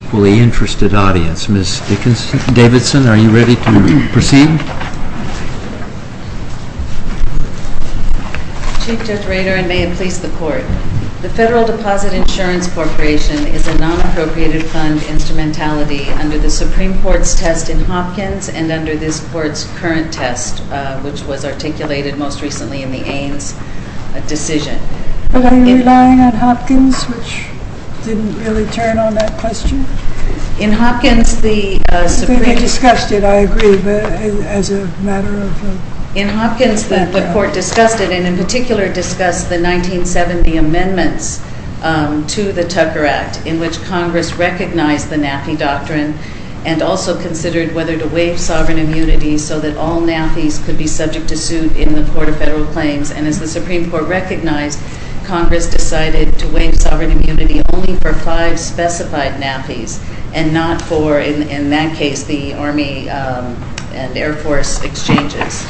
The Federal Deposit Insurance Corporation is a non-appropriated fund instrumentality under the Supreme Court's test in Hopkins and under this Court's current test, which was articulated most recently in the Ains decision. In Hopkins the Court discussed it and in particular discussed the 1970 amendments to the Tucker Act in which Congress recognized the NAFI doctrine and also considered whether to waive sovereign immunity only for 5 specified NAFIs and not for, in that case, the Army and Air Force exchanges.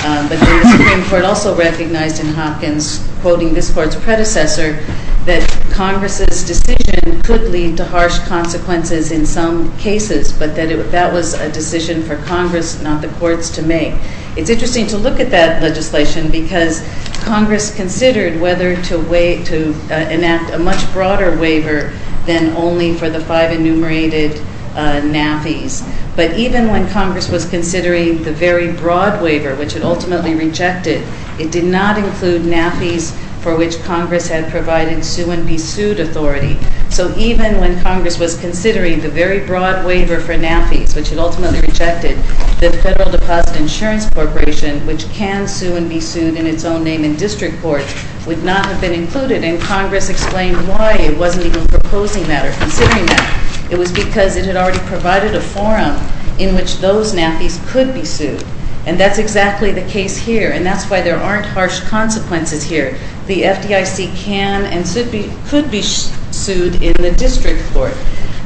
But the Supreme Court also recognized in Hopkins, quoting this Court's predecessor, that Congress's decision could lead to harsh consequences in some cases, but that that was a decision for Congress, not the courts, to make. It's interesting to look at that legislation because Congress considered whether to enact a much broader waiver than only for the 5 enumerated NAFIs, but even when Congress was considering the very broad waiver, which it ultimately rejected, it did not include NAFIs for which Congress had provided sue-and-be-sued authority. So even when Congress was considering the very broad waiver for NAFIs, which it ultimately rejected, the Federal Deposit Insurance Corporation, which can sue-and-be-sued in its own name in district courts, would not have been included, and Congress explained why it wasn't even proposing that or considering that. It was because it had already provided a forum in which those NAFIs could be sued, and that's exactly the case here, and that's why there aren't harsh consequences here. The FDIC can and could be sued in the district court,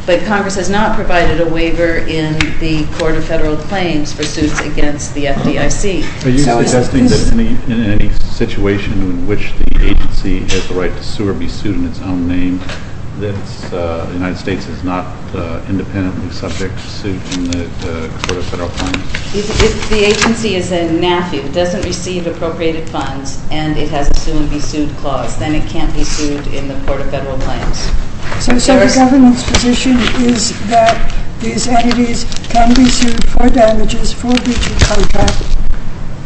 but Congress has not provided a waiver in the Court of Federal Claims for suits against the FDIC. Are you suggesting that in any situation in which the agency has the right to sue or be sued in its own name, that the United States is not independently subject to suit in the Court of Federal Claims? If the agency is a NAFI that doesn't receive appropriated funds and it has a sue-and-be-sued clause, then it can't be sued in the Court of Federal Claims. So the government's position is that these entities can be sued for damages for breaching contract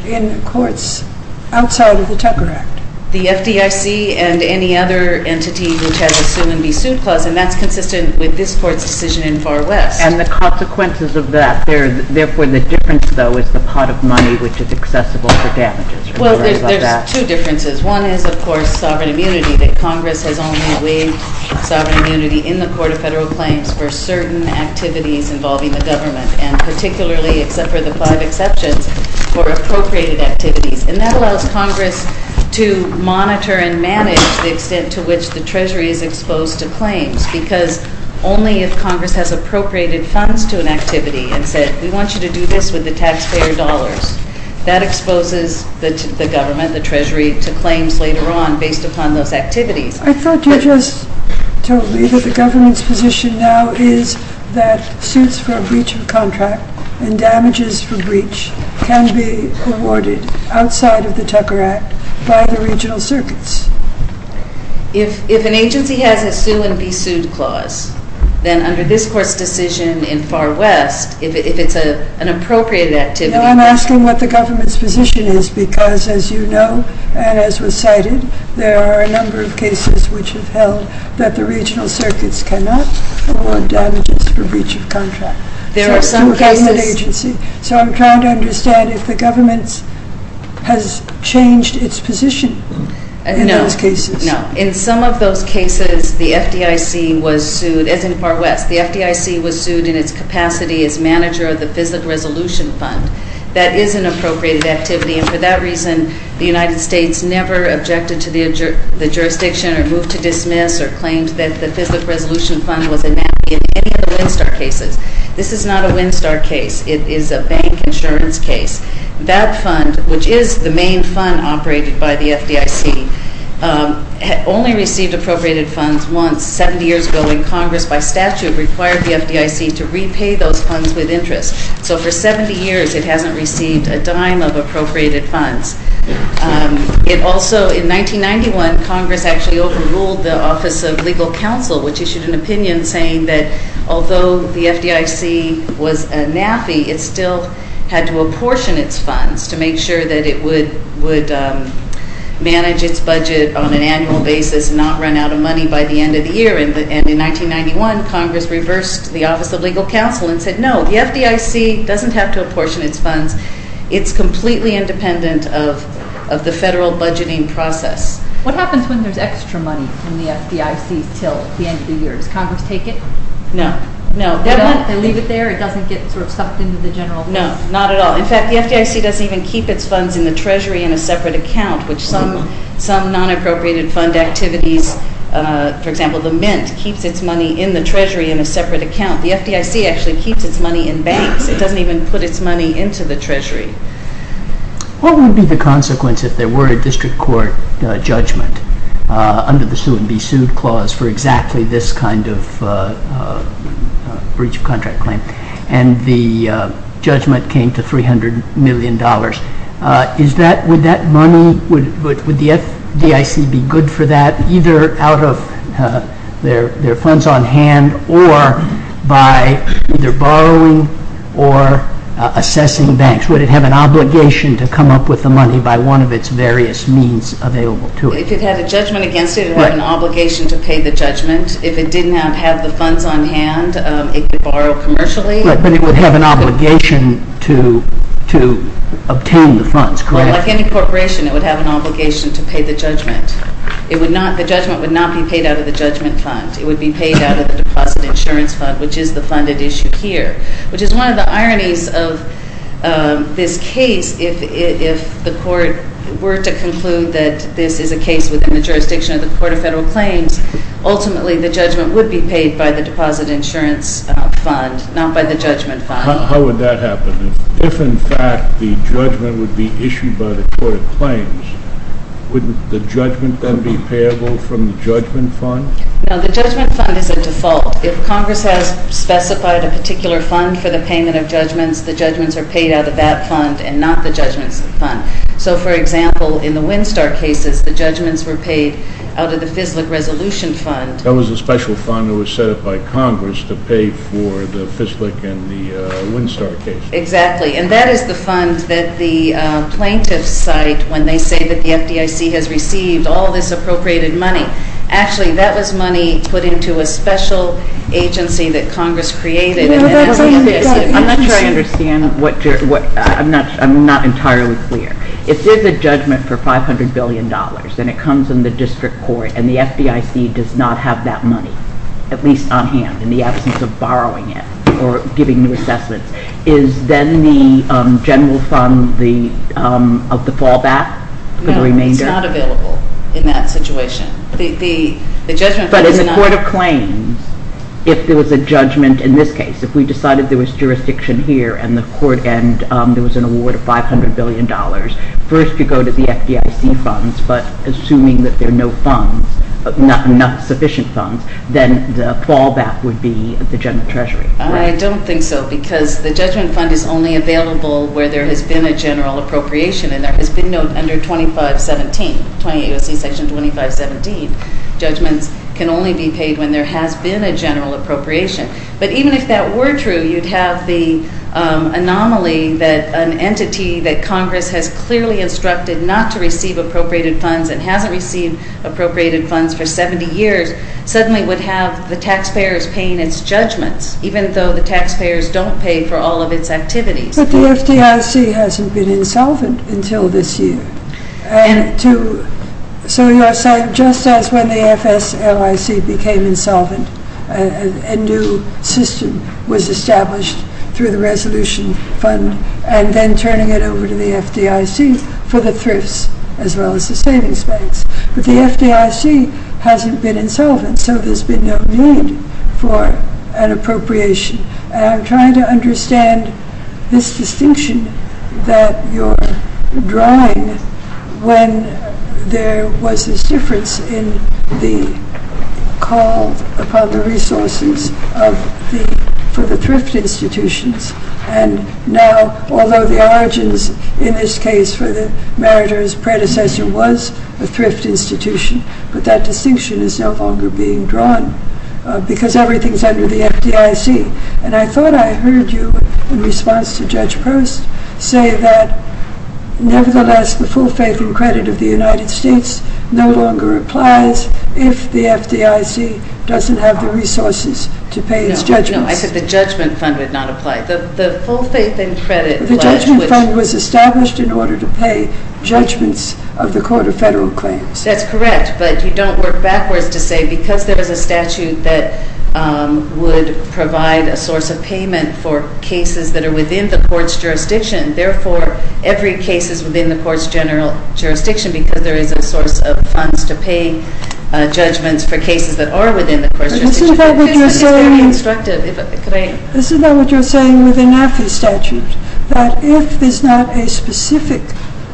in courts outside of the Tucker Act? The FDIC and any other entity which has a sue-and-be-sued clause, and that's consistent with this Court's decision in Far West. And the consequences of that, therefore the difference, though, is the pot of money which is accessible for damages. Well, there's two differences. One is, of course, sovereign immunity, that Congress has only waived sovereign immunity in the Court of Federal Claims for certain activities involving the government, and particularly, except for the five exceptions, for appropriated activities. And that allows Congress to monitor and manage the extent to which the Treasury is exposed to claims, because only if Congress has appropriated funds to an activity and said, we want you to do this with the taxpayer dollars, that exposes the government, the Treasury, to claims later on, based upon those activities. I thought you just told me that the government's position now is that suits for a breach of contract and damages for breach can be awarded outside of the Tucker Act by the regional circuits. If an agency has a sue-and-be-sued clause, then under this Court's decision in Far West, if it's an appropriated activity— I'm asking what the government's position is, because, as you know, and as was cited, there are a number of cases which have held that the regional circuits cannot award damages for breach of contract. There are some cases— Some government agency. So I'm trying to understand if the government has changed its position in those cases. No, in some of those cases, the FDIC was sued, as in Far West, the FDIC was sued in its capacity as manager of the Fiscal Resolution Fund. That is an appropriated activity, and for that reason, the United States never objected to the jurisdiction or moved to dismiss or claimed that the Fiscal Resolution Fund was a nanny in any of the Winstar cases. This is not a Winstar case. It is a bank insurance case. That fund, which is the main fund operated by the FDIC, had only received appropriated funds once, 70 years ago, when Congress, by statute, required the FDIC to repay those funds with interest. So for 70 years, it hasn't received a dime of appropriated funds. It also, in 1991, Congress actually overruled the Office of Legal Counsel, which issued an opinion saying that, although the FDIC was a naffy, it still had to apportion its funds to make sure that it would manage its budget on an annual basis and not run out of money by the end of the year, and in 1991, Congress reversed the Office of Legal Counsel and said, no, the FDIC doesn't have to apportion its funds. It's completely independent of the federal budgeting process. What happens when there's extra money from the FDIC till the end of the year? Does Congress take it? No. No. They don't? They leave it there? It doesn't get sort of sucked into the general fund? No, not at all. In fact, the FDIC doesn't even keep its funds in the Treasury in a separate account, which some non-appropriated fund activities, for example, the Mint keeps its money in the Treasury in a separate account. The FDIC actually keeps its money in banks. It doesn't even put its money into the Treasury. What would be the consequence if there were a district court judgment under the sue and be sued clause for exactly this kind of breach of contract claim, and the judgment came to $300 million, is that, would that money, would the FDIC be good for that, either out of their funds on hand or by either borrowing or assessing banks? Would it have an obligation to come up with the money by one of its various means available to it? If it had a judgment against it, it would have an obligation to pay the judgment. If it didn't have the funds on hand, it could borrow commercially. Right. But it would have an obligation to obtain the funds, correct? Well, like any corporation, it would have an obligation to pay the judgment. It would not, the judgment would not be paid out of the judgment fund. It would be paid out of the deposit insurance fund, which is the funded issue here, which is one of the ironies of this case, if the court were to conclude that this is a case within the jurisdiction of the Court of Federal Claims, ultimately the judgment would be paid by the deposit insurance fund, not by the judgment fund. How would that happen? If, in fact, the judgment would be issued by the Court of Claims, wouldn't the judgment then be payable from the judgment fund? No. The judgment fund is a default. If Congress has specified a particular fund for the payment of judgments, the judgments are paid out of that fund and not the judgments fund. So for example, in the Winstar cases, the judgments were paid out of the FISLIC resolution fund. That was a special fund that was set up by Congress to pay for the FISLIC and the Winstar cases. Exactly. And that is the fund that the plaintiffs cite when they say that the FDIC has received all this appropriated money. Actually, that was money put into a special agency that Congress created and that is the FISLIC. I'm not sure I understand. I'm not entirely clear. If there is a judgment for $500 billion and it comes in the district court and the FDIC does not have that money, at least on hand, in the absence of borrowing it or giving new assessments, is then the general fund of the fallback for the remainder? No. It's not available in that situation. But as a court of claims, if there was a judgment in this case, if we decided there was jurisdiction here and there was an award of $500 billion, first you go to the FDIC funds, but assuming that there are no funds, not sufficient funds, then the fallback would be the general treasury. I don't think so because the judgment fund is only available where there has been a general appropriation and there has been no under 2517, 28 U.S.C. Section 2517. Judgments can only be paid when there has been a general appropriation. But even if that were true, you'd have the anomaly that an entity that Congress has clearly instructed not to receive appropriated funds and hasn't received appropriated funds for 70 years, suddenly would have the taxpayers paying its judgments, even though the taxpayers don't pay for all of its activities. But the FDIC hasn't been insolvent until this year. And so you're saying just as when the FSLIC became insolvent, a new system was established through the resolution fund and then turning it over to the FDIC for the thrifts as well as the savings banks. But the FDIC hasn't been insolvent, so there's been no need for an appropriation. And I'm trying to understand this distinction that you're drawing when there was this difference in the call upon the resources for the thrift institutions. And now, although the origins in this case for the meritorious predecessor was a thrift institution, but that distinction is no longer being drawn because everything is under the jurisdiction of the FDIC. And I thought I heard you, in response to Judge Post, say that nevertheless the full faith and credit of the United States no longer applies if the FDIC doesn't have the resources to pay its judgments. No. No. I said the judgment fund would not apply. The full faith and credit... The judgment fund was established in order to pay judgments of the Court of Federal Claims. That's correct, but you don't work backwards to say because there's a statute that would provide a source of payment for cases that are within the court's jurisdiction. Therefore, every case is within the court's general jurisdiction because there is a source of funds to pay judgments for cases that are within the court's jurisdiction. This is not what you're saying... This is very constructive. Could I... This is not what you're saying with the NAFI statute, that if there's not a specific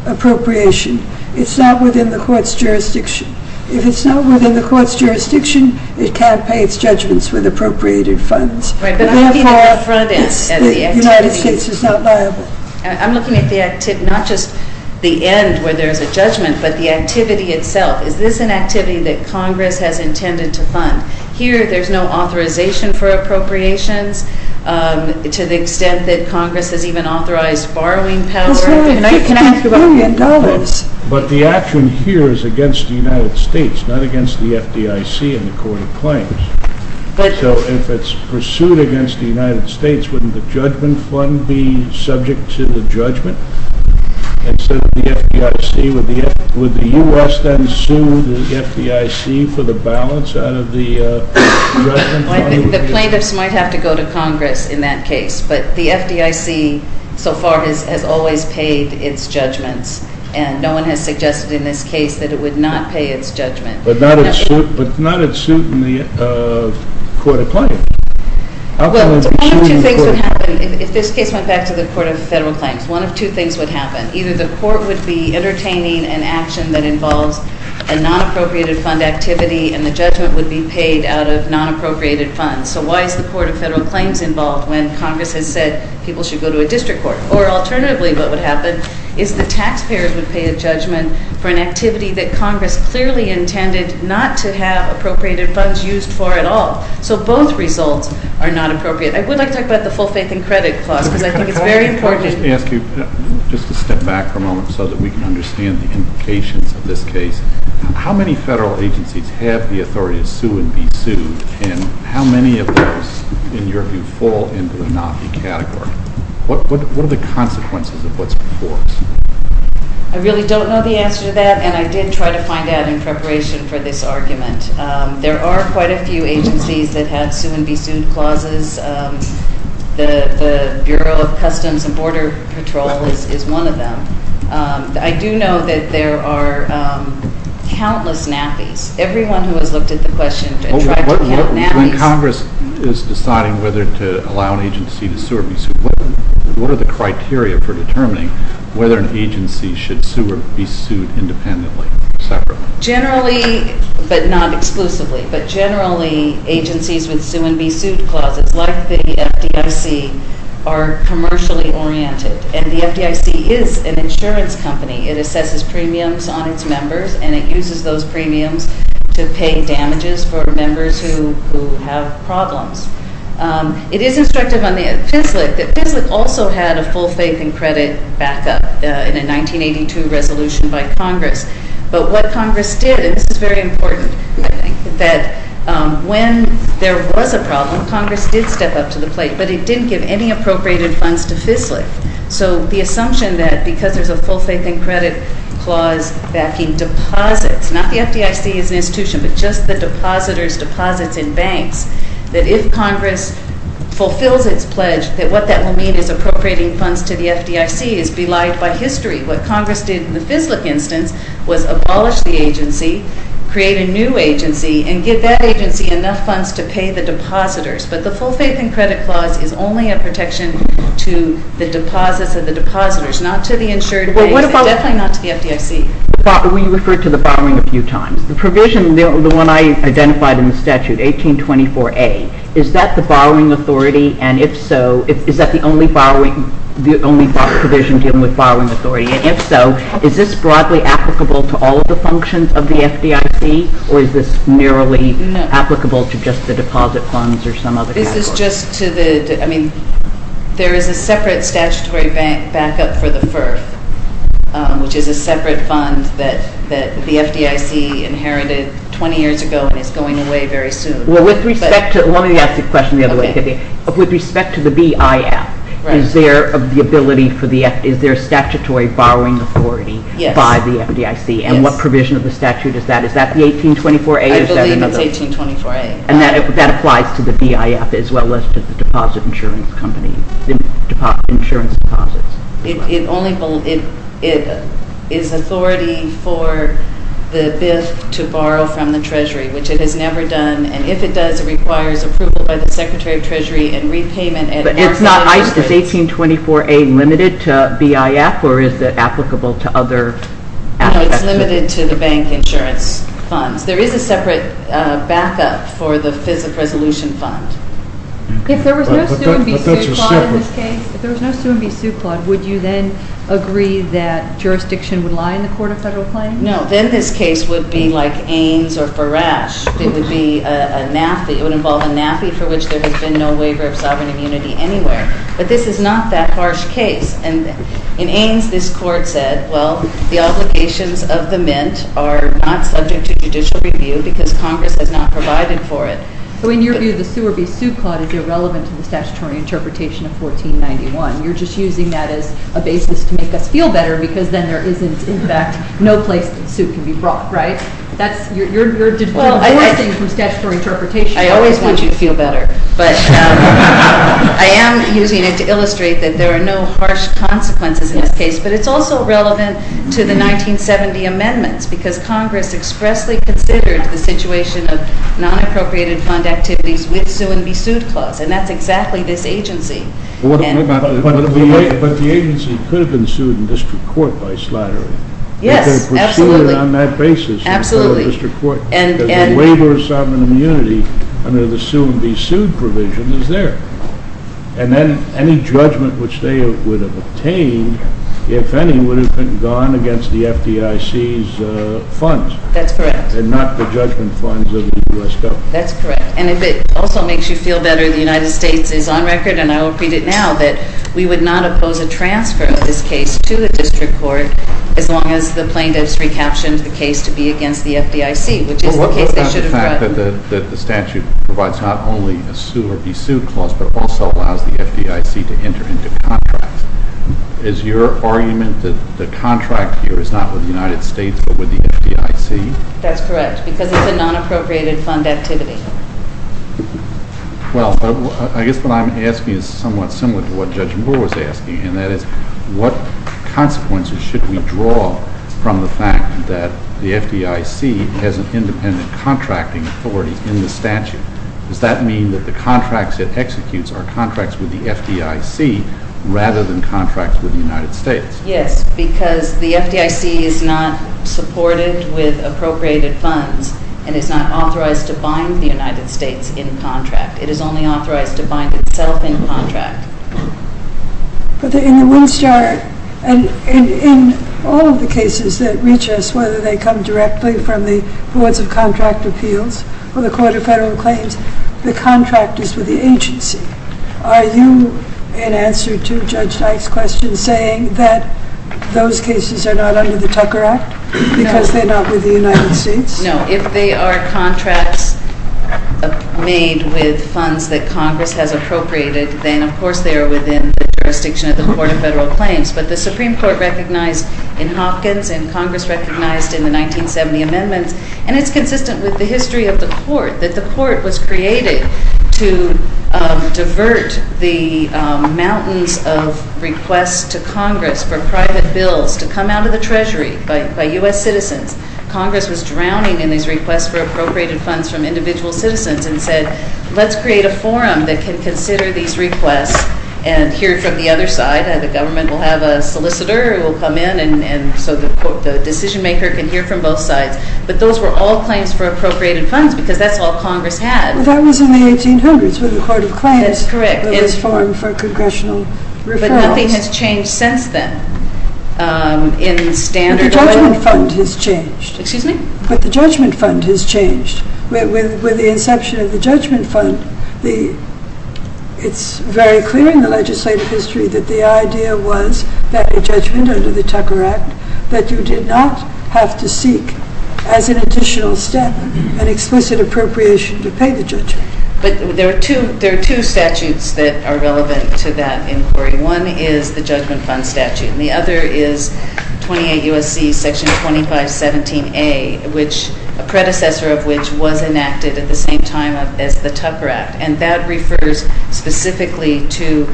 appropriation, it's not within the court's jurisdiction. If it's not within the court's jurisdiction, it can't pay its judgments with appropriated funds. Right, but I'm looking at the front end. Yes, the United States is not liable. I'm looking at the activity, not just the end where there's a judgment, but the activity itself. Is this an activity that Congress has intended to fund? Here, there's no authorization for appropriations to the extent that Congress has even authorized borrowing power. That's right. And I can ask about... But the action here is against the United States, not against the FDIC and the Court of Claims. But... So if it's pursued against the United States, wouldn't the judgment fund be subject to the judgment? Instead of the FDIC, would the U.S. then sue the FDIC for the balance out of the judgment fund? The plaintiffs might have to go to Congress in that case, but the FDIC so far has always paid its judgments, and no one has suggested in this case that it would not pay its judgment. But not at suit in the Court of Claims? Well, one of two things would happen if this case went back to the Court of Federal Claims. One of two things would happen. Either the court would be entertaining an action that involves a non-appropriated fund activity, and the judgment would be paid out of non-appropriated funds. So why is the Court of Federal Claims involved when Congress has said people should go to a district court? Or alternatively, what would happen is the taxpayers would pay a judgment for an activity that Congress clearly intended not to have appropriated funds used for at all. So both results are not appropriate. I would like to talk about the full faith and credit clause, because I think it's very important. Let me ask you, just to step back for a moment so that we can understand the implications of this case. How many federal agencies have the authority to sue and be sued, and how many of those in your view fall into the not be category? What are the consequences of what's before us? I really don't know the answer to that, and I did try to find out in preparation for this argument. There are quite a few agencies that have sue and be sued clauses. The Bureau of Customs and Border Patrol is one of them. I do know that there are countless nappies. Everyone who has looked at the question and tried to count nappies— What are the criteria for determining whether an agency should sue or be sued independently or separately? Generally, but not exclusively, but generally agencies with sue and be sued clauses, like the FDIC, are commercially oriented. And the FDIC is an insurance company. It assesses premiums on its members, and it uses those premiums to pay damages for members who have problems. It is instructive on the FSLC that FSLC also had a full faith and credit backup in a 1982 resolution by Congress. But what Congress did—and this is very important—that when there was a problem, Congress did step up to the plate, but it didn't give any appropriated funds to FSLC. So the assumption that because there's a full faith and credit clause backing deposits—not the FDIC as an institution, but just the depositors' deposits in banks—that if Congress fulfills its pledge, that what that will mean is appropriating funds to the FDIC is belied by history. What Congress did in the FSLC instance was abolish the agency, create a new agency, and give that agency enough funds to pay the depositors. But the full faith and credit clause is only a protection to the deposits of the depositors, not to the insured banks and definitely not to the FDIC. We referred to the following a few times. The provision, the one I identified in the statute, 1824A, is that the borrowing authority? And if so, is that the only borrowing—the only provision dealing with borrowing authority? And if so, is this broadly applicable to all of the functions of the FDIC, or is this merely applicable to just the deposit funds or some other— This is just to the—I mean, there is a separate statutory backup for the FIRF, which is a property that was inherited 20 years ago and is going away very soon. Well, with respect to—let me ask the question the other way, Vivian. Okay. With respect to the BIF, is there a statutory borrowing authority by the FDIC? Yes. And what provision of the statute is that? Is that the 1824A or is that another— I believe it's 1824A. And that applies to the BIF as well as to the deposit insurance company, insurance deposits? It only—it is authority for the BIF to borrow from the Treasury, which it has never done. And if it does, it requires approval by the Secretary of Treasury and repayment at— But it's not—is 1824A limited to BIF or is it applicable to other assets? No, it's limited to the bank insurance funds. There is a separate backup for the FIRF resolution fund. If there was no sue and be sued claud in this case, would you then agree that jurisdiction would lie in the court of federal claim? No. Then this case would be like Ains or Farage. It would be a NAFI. It would involve a NAFI for which there has been no waiver of sovereign immunity anywhere. But this is not that harsh case. And in Ains, this court said, well, the obligations of the Mint are not subject to judicial review because Congress has not provided for it. So in your view, the sue or be sued claud is irrelevant to the statutory interpretation of 1491. You're just using that as a basis to make us feel better because then there isn't, in fact, no place the suit can be brought, right? That's—you're divorcing from statutory interpretation. I always want you to feel better. But I am using it to illustrate that there are no harsh consequences in this case. But it's also relevant to the 1970 amendments because Congress expressly considered the situation of non-appropriated fund activities with sue and be sued clause. And that's exactly this agency. But the agency could have been sued in district court by Slattery. Yes, absolutely. But they're pursuing it on that basis in federal district court. Absolutely. Because the waiver of sovereign immunity under the sue and be sued provision is there. And then any judgment which they would have obtained, if any, would have been gone against the FDIC's funds. That's correct. And not the judgment funds of the U.S. government. That's correct. And if it also makes you feel better, the United States is on record, and I will read it now, that we would not oppose a transfer of this case to the district court as long as the plaintiffs recaptioned the case to be against the FDIC, which is the case they should have brought. The fact that the statute provides not only a sue or be sued clause but also allows the FDIC to enter into contracts, is your argument that the contract here is not with the United States but with the FDIC? That's correct. Because it's a non-appropriated fund activity. Well, I guess what I'm asking is somewhat similar to what Judge Moore was asking, and that is, what consequences should we draw from the fact that the FDIC has an independent contracting authority in the statute? Does that mean that the contracts it executes are contracts with the FDIC rather than contracts with the United States? Yes, because the FDIC is not supported with appropriated funds and is not authorized to bind the United States in contract. It is only authorized to bind itself in contract. But in the Windstar, and in all of the cases that reach us, whether they come directly from the Boards of Contract Appeals or the Court of Federal Claims, the contract is with the agency. Are you, in answer to Judge Dyke's question, saying that those cases are not under the Tucker Act because they're not with the United States? No, if they are contracts made with funds that Congress has appropriated, then of course they are within the jurisdiction of the Court of Federal Claims. But the Supreme Court recognized in Hopkins and Congress recognized in the 1970 amendments, and it's consistent with the history of the Court, that the Court was created to divert the mountains of requests to Congress for private bills to come out of the Treasury by U.S. citizens. Congress was drowning in these requests for appropriated funds from individual citizens and said, let's create a forum that can consider these requests and hear from the other side. The government will have a solicitor who will come in so the decision-maker can hear from both sides. But those were all claims for appropriated funds because that's all Congress had. That was in the 1800s with the Court of Claims. That's correct. There was a forum for congressional referrals. But nothing has changed since then. But the Judgment Fund has changed. Excuse me? But the Judgment Fund has changed. With the inception of the Judgment Fund, it's very clear in the legislative history that the idea was that a judgment under the Tucker Act that you did not have to seek as an additional step an explicit appropriation to pay the judgment. But there are two statutes that are relevant to that inquiry. One is the Judgment Fund statute and the other is 28 U.S.C. Section 2517A, a predecessor of which was enacted at the same time as the Tucker Act. And that refers specifically to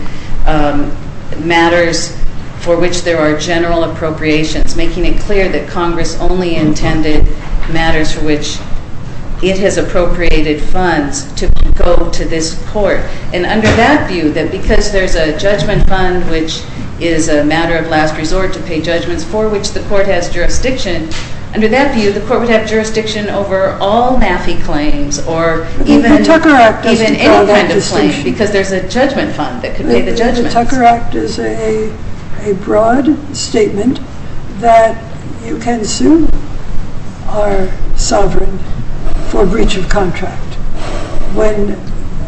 matters for which there are general appropriations, making it clear that Congress only intended matters for which it has appropriated funds to go to this court. And under that view, that because there's a Judgment Fund, which is a matter of last resort to pay judgments, for which the court has jurisdiction, under that view the court would have jurisdiction over all MAFI claims or even any kind of claim because there's a Judgment Fund that could pay the judgment. The Tucker Act is a broad statement that you can sue our sovereign for breach of contract.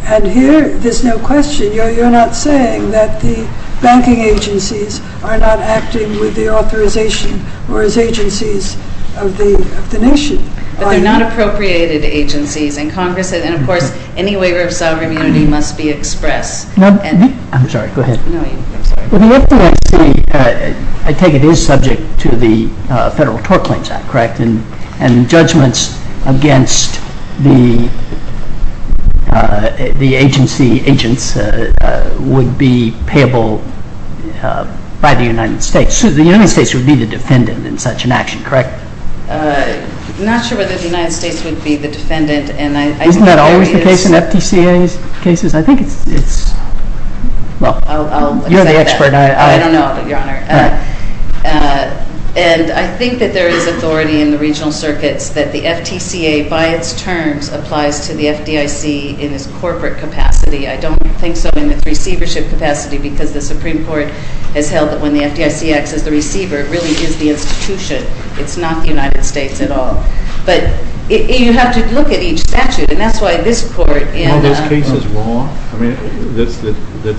And here there's no question. You're not saying that the banking agencies are not acting with the authorization or as agencies of the nation. But they're not appropriated agencies and, of course, any waiver of sovereign immunity must be expressed. I'm sorry. Go ahead. No, I'm sorry. Well, the FDIC, I take it, is subject to the Federal Tort Claims Act, correct? And judgments against the agency agents would be payable by the United States. So the United States would be the defendant in such an action, correct? I'm not sure whether the United States would be the defendant. Isn't that always the case in FDCA cases? I think it's – well, you're the expert. I don't know, Your Honor. And I think that there is authority in the regional circuits that the FTCA by its terms applies to the FDIC in its corporate capacity. I don't think so in its receivership capacity because the Supreme Court has held that when the FDIC acts as the receiver, it really is the institution. It's not the United States at all. But you have to look at each statute, and that's why this court in – Are all those cases wrong? I mean, let's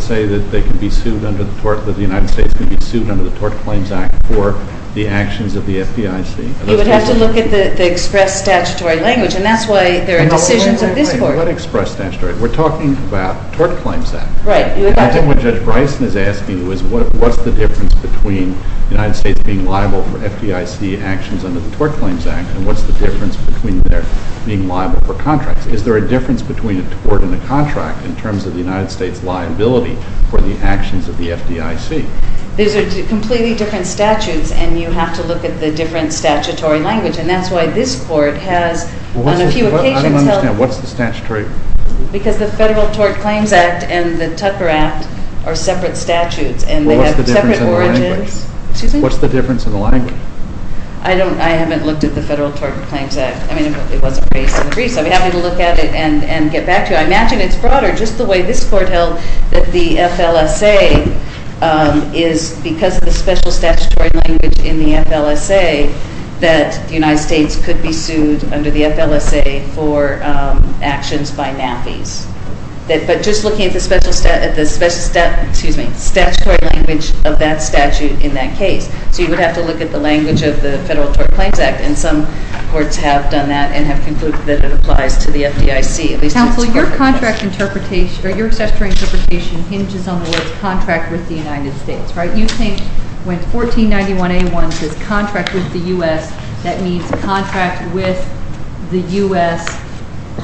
say that they can be sued under the tort – that the United States can be sued under the Tort Claims Act for the actions of the FDIC. You would have to look at the express statutory language, and that's why there are decisions of this court. Let express statutory. We're talking about Tort Claims Act. Right. I think what Judge Bryson is asking is what's the difference between the United States being liable for FDIC actions under the Tort Claims Act and what's the difference between their being liable for contracts? Is there a difference between a tort and a contract in terms of the United States' liability for the actions of the FDIC? These are completely different statutes, and you have to look at the different statutory language, and that's why this court has on a few occasions held – I don't understand. What's the statutory – Because the Federal Tort Claims Act and the Tucker Act are separate statutes, and they have separate origins. Well, what's the difference in the language? Excuse me? What's the difference in the language? I haven't looked at the Federal Tort Claims Act. I mean, it wasn't raised in the briefs. I'd be happy to look at it and get back to you. I imagine it's broader just the way this court held that the FLSA is because of the special statutory language in the FLSA that the United States could be sued under the FLSA for actions by NAAFIs. But just looking at the special – excuse me – statutory language of that statute in that case. So you would have to look at the language of the Federal Tort Claims Act, and some courts have done that and have concluded that it applies to the FDIC. Counsel, your contract interpretation – or your statutory interpretation hinges on the words contract with the United States, right? You think when 1491A1 says contract with the U.S., that means contract with the U.S.,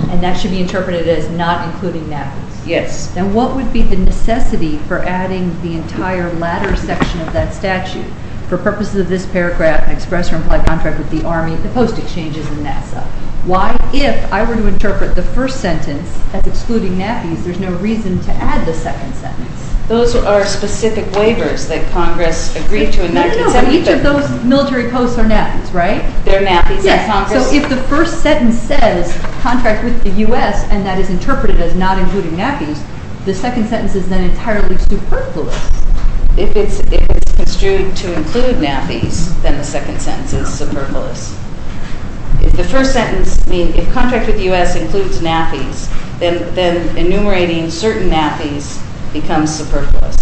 and that should be interpreted as not including NAAFIs. Yes. Then what would be the necessity for adding the entire latter section of that statute for purposes of this paragraph, express or implied contract with the Army, the post exchanges, and NASA? Why, if I were to interpret the first sentence as excluding NAAFIs, there's no reason to add the second sentence? Those are specific waivers that Congress agreed to in 1970. No, no, no. Each of those military posts are NAAFIs, right? They're NAAFIs in Congress? Yes. So if the first sentence says contract with the U.S. and that is interpreted as not including NAAFIs, the second sentence is then entirely superfluous. If it's construed to include NAAFIs, then the second sentence is superfluous. If the first sentence, I mean, if contract with the U.S. includes NAAFIs, then enumerating certain NAAFIs becomes superfluous.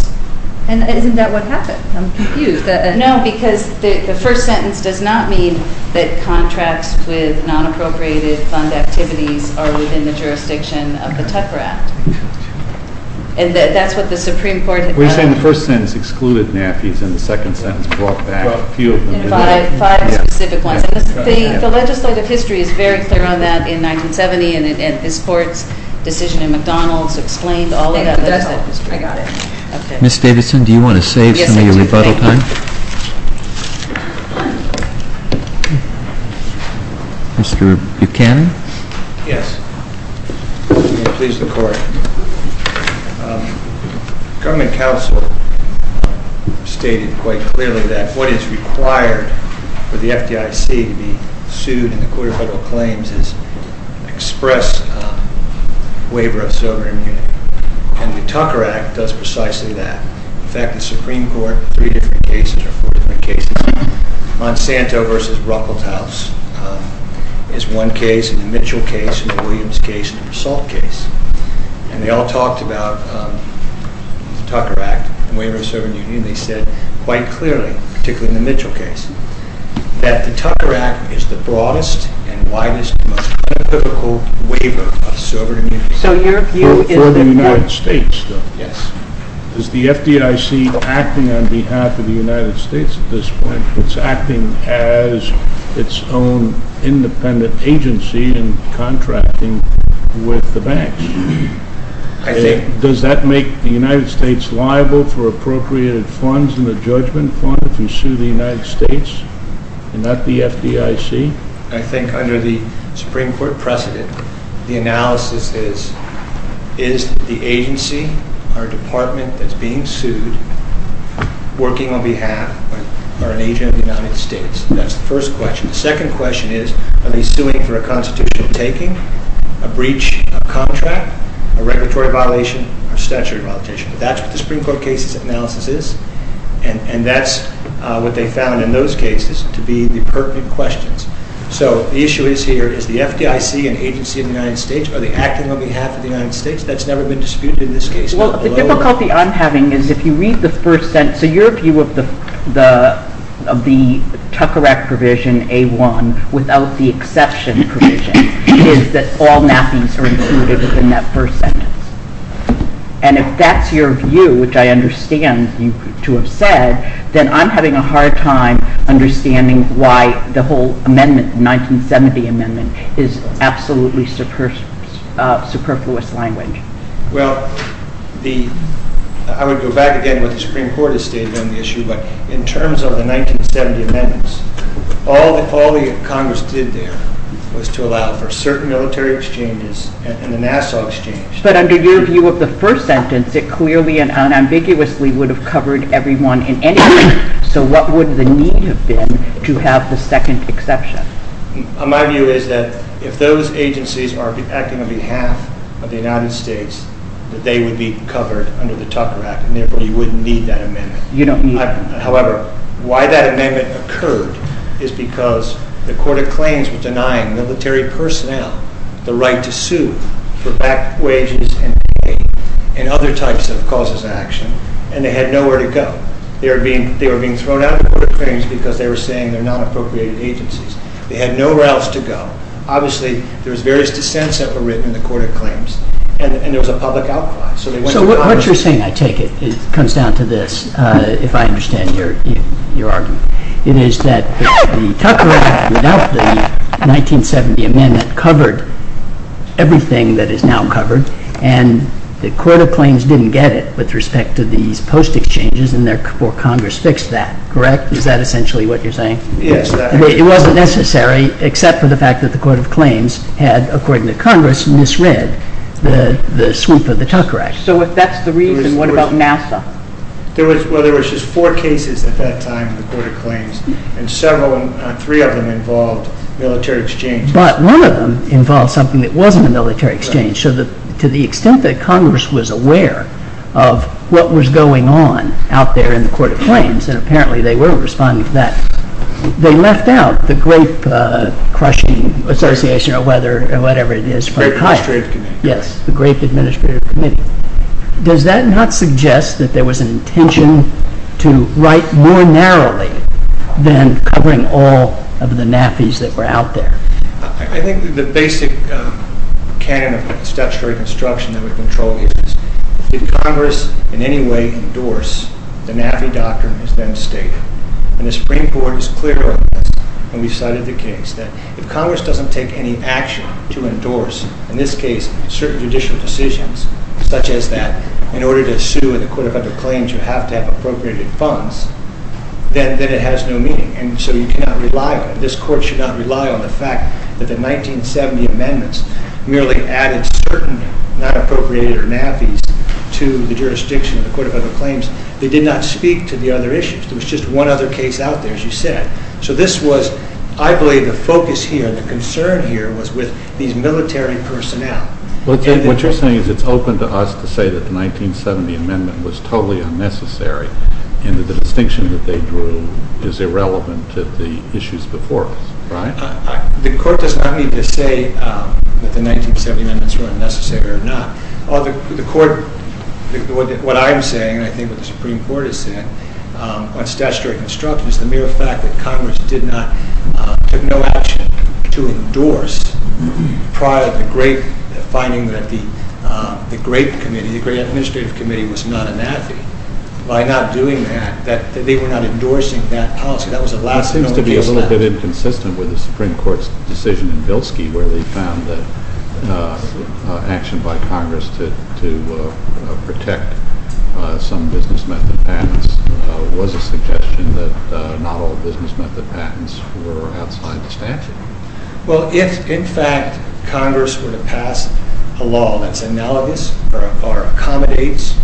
And isn't that what happened? I'm confused. No, because the first sentence does not mean that contracts with non-appropriated fund activities are within the jurisdiction of the Tupper Act. And that's what the Supreme Court had done. Well, you're saying the first sentence excluded NAAFIs and the second sentence brought back a few of them. Five specific ones. The legislative history is very clear on that in 1970, and this Court's decision in McDonald's explained all of that legislative history. I got it. Ms. Davidson, do you want to save some of your rebuttal time? Yes, I do. Thank you. Mr. Buchanan? Yes. May it please the Court. Government counsel stated quite clearly that what is required for the FDIC to be sued in the Court of Federal Claims is express waiver of Sovereign Union. And the Tucker Act does precisely that. In fact, the Supreme Court, three different cases or four different cases, Monsanto v. Ruckelshaus is one case, and the Mitchell case, and the Williams case, and the Persault case. And they all talked about the Tucker Act and waiver of Sovereign Union. They said quite clearly, particularly in the Mitchell case, that the Tucker Act is the broadest and widest and most unethical waiver of Sovereign Union. For the United States, though? Yes. Is the FDIC acting on behalf of the United States at this point? It's acting as its own independent agency and contracting with the banks. I think. Does that make the United States liable for appropriated funds in the judgment fund if we sue the United States and not the FDIC? I think under the Supreme Court precedent, the analysis is, is the agency or department that's being sued working on behalf or an agent of the United States? That's the first question. The second question is, are they suing for a constitutional taking, a breach of contract, a regulatory violation, or statutory violation? That's what the Supreme Court case analysis is, and that's what they found in those cases to be the pertinent questions. So the issue is here, is the FDIC an agency of the United States? Are they acting on behalf of the United States? That's never been disputed in this case. The difficulty I'm having is if you read the first sentence, so your view of the Tucker Act provision A-1 without the exception provision is that all nappies are included in that first sentence. And if that's your view, which I understand you to have said, then I'm having a hard time understanding why the whole amendment, the 1970 amendment, is absolutely superfluous language. Well, I would go back again what the Supreme Court has stated on the issue, but in terms of the 1970 amendments, all that Congress did there was to allow for certain military exchanges and the Nassau exchange. But under your view of the first sentence, it clearly and unambiguously would have covered everyone in any way. So what would the need have been to have the second exception? My view is that if those agencies are acting on behalf of the United States, that they would be covered under the Tucker Act and therefore you wouldn't need that amendment. You don't need it. However, why that amendment occurred is because the Court of Claims was denying military personnel the right to sue for back wages and pay and other types of causes of action and they had nowhere to go. They were being thrown out of the Court of Claims because they were saying they're not appropriated agencies. They had nowhere else to go. Obviously, there was various dissents that were written in the Court of Claims and there was a public outcry. So what you're saying, I take it, comes down to this, if I understand your argument. It is that the Tucker Act, without the 1970 amendment, covered everything that is now covered and the Court of Claims didn't get it with respect to these post exchanges and therefore Congress fixed that, correct? Is that essentially what you're saying? It wasn't necessary except for the fact that the Court of Claims had, according to Congress, misread the swoop of the Tucker Act. So if that's the reason, what about NASA? Well, there was just four cases at that time in the Court of Claims and three of them involved military exchanges. But one of them involved something that wasn't a military exchange. So to the extent that Congress was aware of what was going on out there in the Court of Claims and apparently they were responding to that, they left out the grape-crushing association or whatever it is. The Grape Administrative Committee. Does that not suggest that there was an intention to write more narrowly than covering all of the NAFIs that were out there? I think the basic canon of the statutory construction that we control is if Congress in any way endorsed the NAFI doctrine is then stated. And the Supreme Board is clear on this when we cited the case that if Congress doesn't take any action to endorse in this case certain judicial decisions such as that in order to have appropriated funds then it has no meaning. This Court should not rely on the fact that the 1970 amendments merely added certain not appropriated or NAFIs to the jurisdiction of the Court of Other Claims. They did not speak to the other issues. There was just one other case out there as you said. So this was I believe the focus here, the concern here was with these military personnel. What you're saying is it's open to us to say that the 1970 amendment was totally unnecessary and that the distinction that they drew is irrelevant to the issues before us, right? The Court does not need to say that the 1970 amendments were unnecessary or not. The Court what I'm saying and I think what the Supreme Court is saying on statutory construction is the mere fact that Congress did not took no action to endorse prior to the great finding that the Great Committee, the Great Administrative Committee was not a NAFI. By not doing that, they were not endorsing that policy. That was the last known case. It seems to be a little bit inconsistent with the Supreme Court's decision in Bilski where they found that action by Congress to protect some business method patents was a suggestion that not all business method patents were outside the statute. Well if in fact Congress were to pass a law that's analogous or accommodates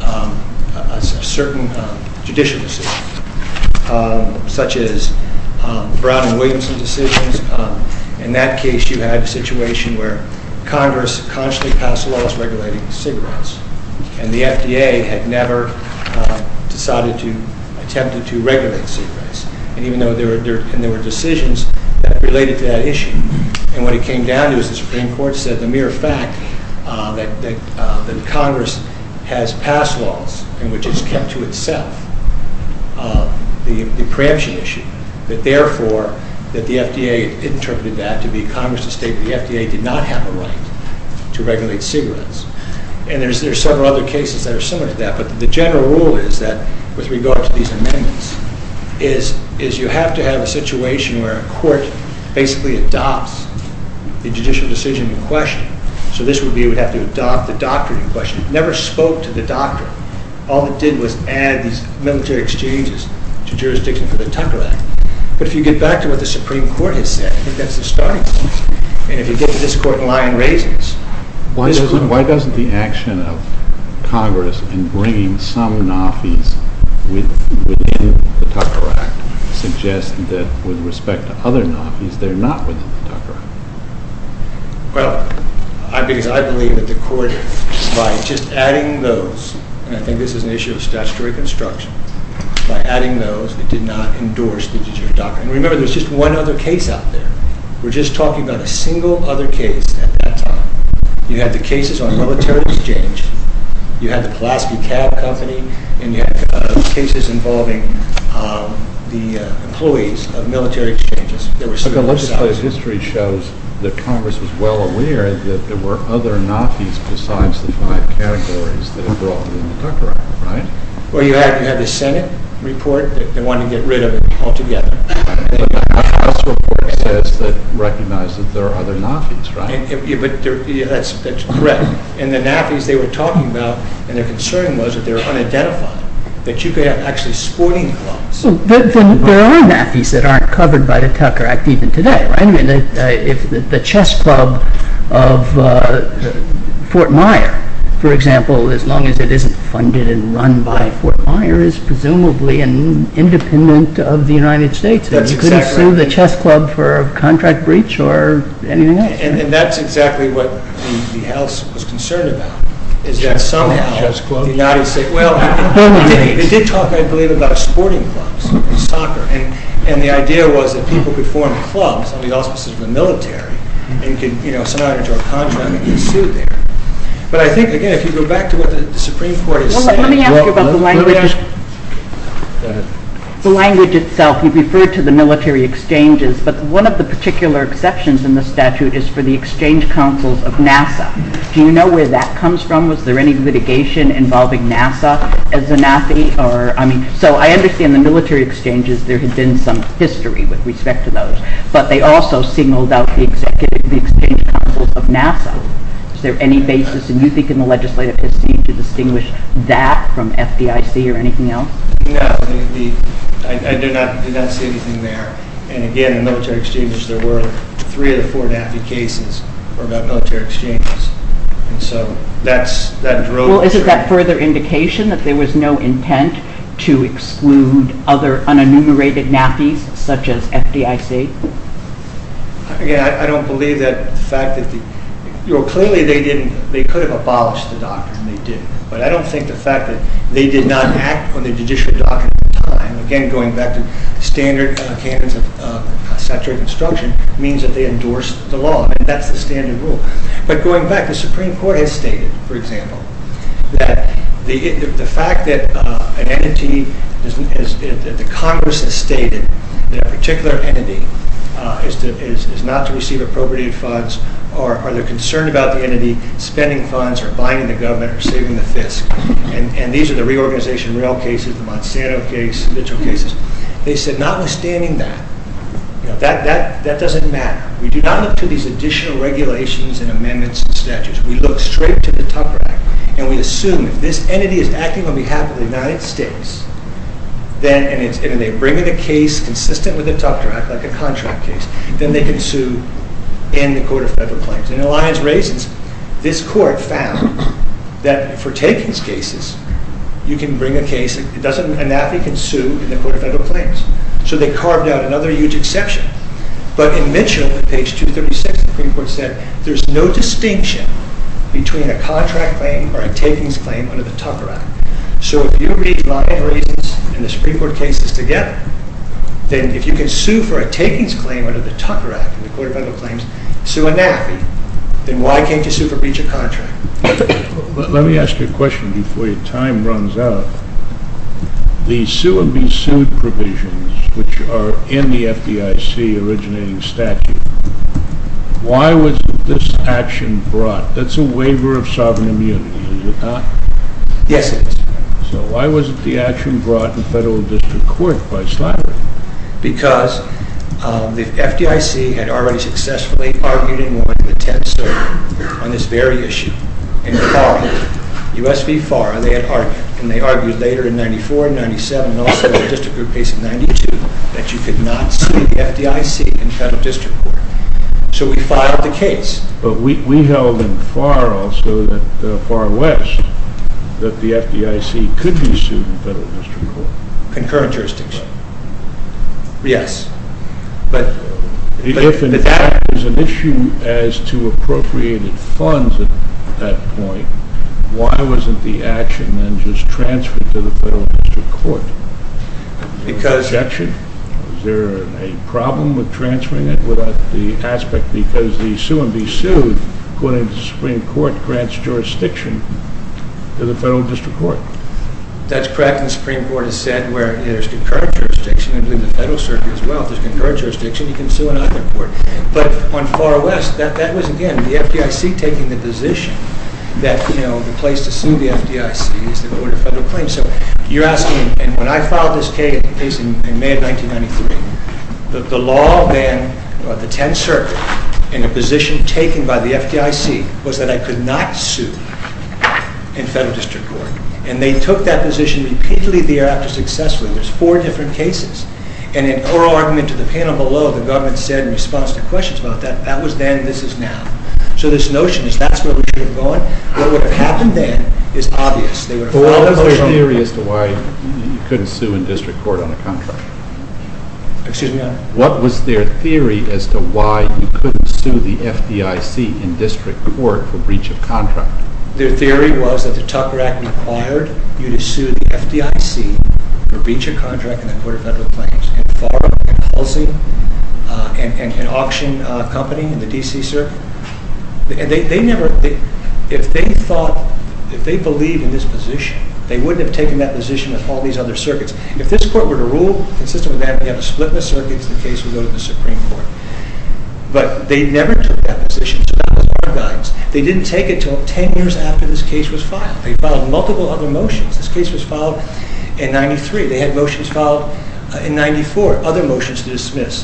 a certain judicial decision such as Brown and Williamson decisions in that case you had a situation where Congress consciously passed laws regulating cigarettes and the FDA had never decided to attempt to regulate cigarettes even though there were decisions that related to that issue and what it came down to is the Supreme Court said the mere fact that Congress has passed laws in which it's kept to itself the preemption issue that therefore that the FDA interpreted that to be Congress to state that the FDA did not have the right to regulate cigarettes and there are several other cases that are similar to that but the general rule is that with regard to these amendments is you have to have a situation where a court basically adopts the judicial decision in question so this would be you would have to adopt the doctrine in question. It never spoke to the doctrine. All it did was add these military exchanges to jurisdiction for the Tucker Act but if you get back to what the Supreme Court has said I think that's the starting point and if you get to this court and lion raises Why doesn't the action of Congress in bringing some NAFIs within the Tucker Act suggest that with respect to other NAFIs they're not within the Tucker Act Well I believe that the court by just adding those and I think this is an issue of statutory construction by adding those it did not endorse the judicial doctrine and remember there's just one other case out there we're just talking about a single other case at that time you had the cases on military exchange you had the Pulaski Cab Company and you had cases involving the employees of military exchanges Let's just say history shows that Congress was well aware that there were other NAFIs besides the five categories that were involved in the Tucker Act Well you had the Senate report that wanted to get rid of it altogether and the House report says that recognized that there are other NAFIs right? That's correct and the NAFIs they were talking about and their concern was that they were actually sporting clubs There are NAFIs that aren't covered by the Tucker Act even today the chess club of Fort Myer for example as long as it isn't funded and run by Fort Myer is presumably independent of the United States you couldn't sue the chess club for a contract breach or anything like that and that's exactly what the House was concerned about is that somehow the United States they did talk I believe about sporting clubs, soccer and the idea was that people could form clubs on the auspices of the military and you know somehow draw a contract and get sued there but I think again if you go back to what the Supreme Court is saying Well let me ask you about the language the language itself you referred to the military exchanges but one of the particular exceptions in the statute is for the exchange councils of NASA Do you know where that comes from? Was there any litigation involving NASA as a NAFI? So I understand the military exchanges there had been some history with respect to those but they also singled out the exchange councils of NASA Is there any basis do you think in the legislative proceeding to distinguish that from FDIC or anything else? I do not see anything there and again in military exchanges there were three of the four NAFI cases were about military exchanges and so that drove Well is it that further indication that there was no intent to exclude other unenumerated NAFI's such as FDIC? Again I don't believe that the fact that clearly they could have abolished the doctrine they did but I don't think the fact that they did not act on the judicial doctrine at the time again going back to standard standards of statutory construction means that they endorsed the law and that's the standard rule but going back the Supreme Court has stated for example that the fact that an entity the Congress has stated that a particular entity is not to receive appropriated funds or are they concerned about the entity spending funds or buying the government or saving the fisc and these are the reorganization rail cases the Monsanto case they said notwithstanding that that doesn't matter we do not look to these additional regulations and amendments and statutes we look straight to the Tufter Act and we assume if this entity is acting on behalf of the United States and they bring in a case consistent with the Tufter Act like a contract case then they can sue in the Court of Federal Claims and in Alliance Raisins this court found that for takings cases you can bring a case a NAFI can sue in the Court of Federal Claims so they carved out another huge exception but in Mitchell page 236 the Supreme Court said there is no distinction between a contract claim or a takings claim under the Tufter Act so if you read Alliance Raisins and the Supreme Court cases together then if you can sue for a takings claim under the Tufter Act in the Court of Federal Claims sue a NAFI then why can't you sue for breach of contract let me ask you a question before your time runs out the sue and be sued provisions which are in the FDIC originating statute why was this action brought that's a waiver of sovereign immunity is it not? Yes it is so why wasn't the action brought in Federal District Court by Slattery because the FDIC had already successfully argued in one attempt on this very issue in FARA U.S. v. FARA they had argued and they argued later in 94 and 97 and also the district group case in 92 that you could not sue the FDIC in Federal District Court so we filed the case but we held in FARA also that Far West that the FDIC could be sued in Federal District Court concurrent jurisdiction yes but if it was an issue as to appropriated funds at that point why wasn't the action then just transferred to the Federal District Court because was there a problem with transferring it without the aspect because the sue and be sued according to the Supreme Court grants jurisdiction to the Federal District Court that's correct and the Supreme Court has said where there's concurrent jurisdiction there's concurrent jurisdiction you can sue in either court but on FARA West that was again the FDIC taking the position that the place to sue the FDIC is the Board of Federal Claims and when I filed this case in May of 1993 the law then the 10th Circuit in a position taken by the FDIC was that I could not sue in Federal District Court and they took that position repeatedly there after successfully there's four different cases and in oral argument to the panel below the government said in response to questions about that that was then this is now so this notion is that's where we should have gone what would have happened then is obvious they would have filed a motion what was their theory as to why you couldn't sue in District Court on a contract excuse me Your Honor what was their theory as to why you couldn't sue the FDIC in District Court for breach of contract their theory was that the Tucker Act required you to sue the FDIC for breach of contract in the Board of Federal Claims and auction company in the D.C. circuit they never if they thought if they believed in this position they wouldn't have taken that position with all these other circuits if this court were to rule we have a split in the circuits the case would go to the Supreme Court but they never took that position they didn't take it until 10 years after this case was filed they filed multiple other motions this case was filed in 93 they had motions filed in 94 other motions to dismiss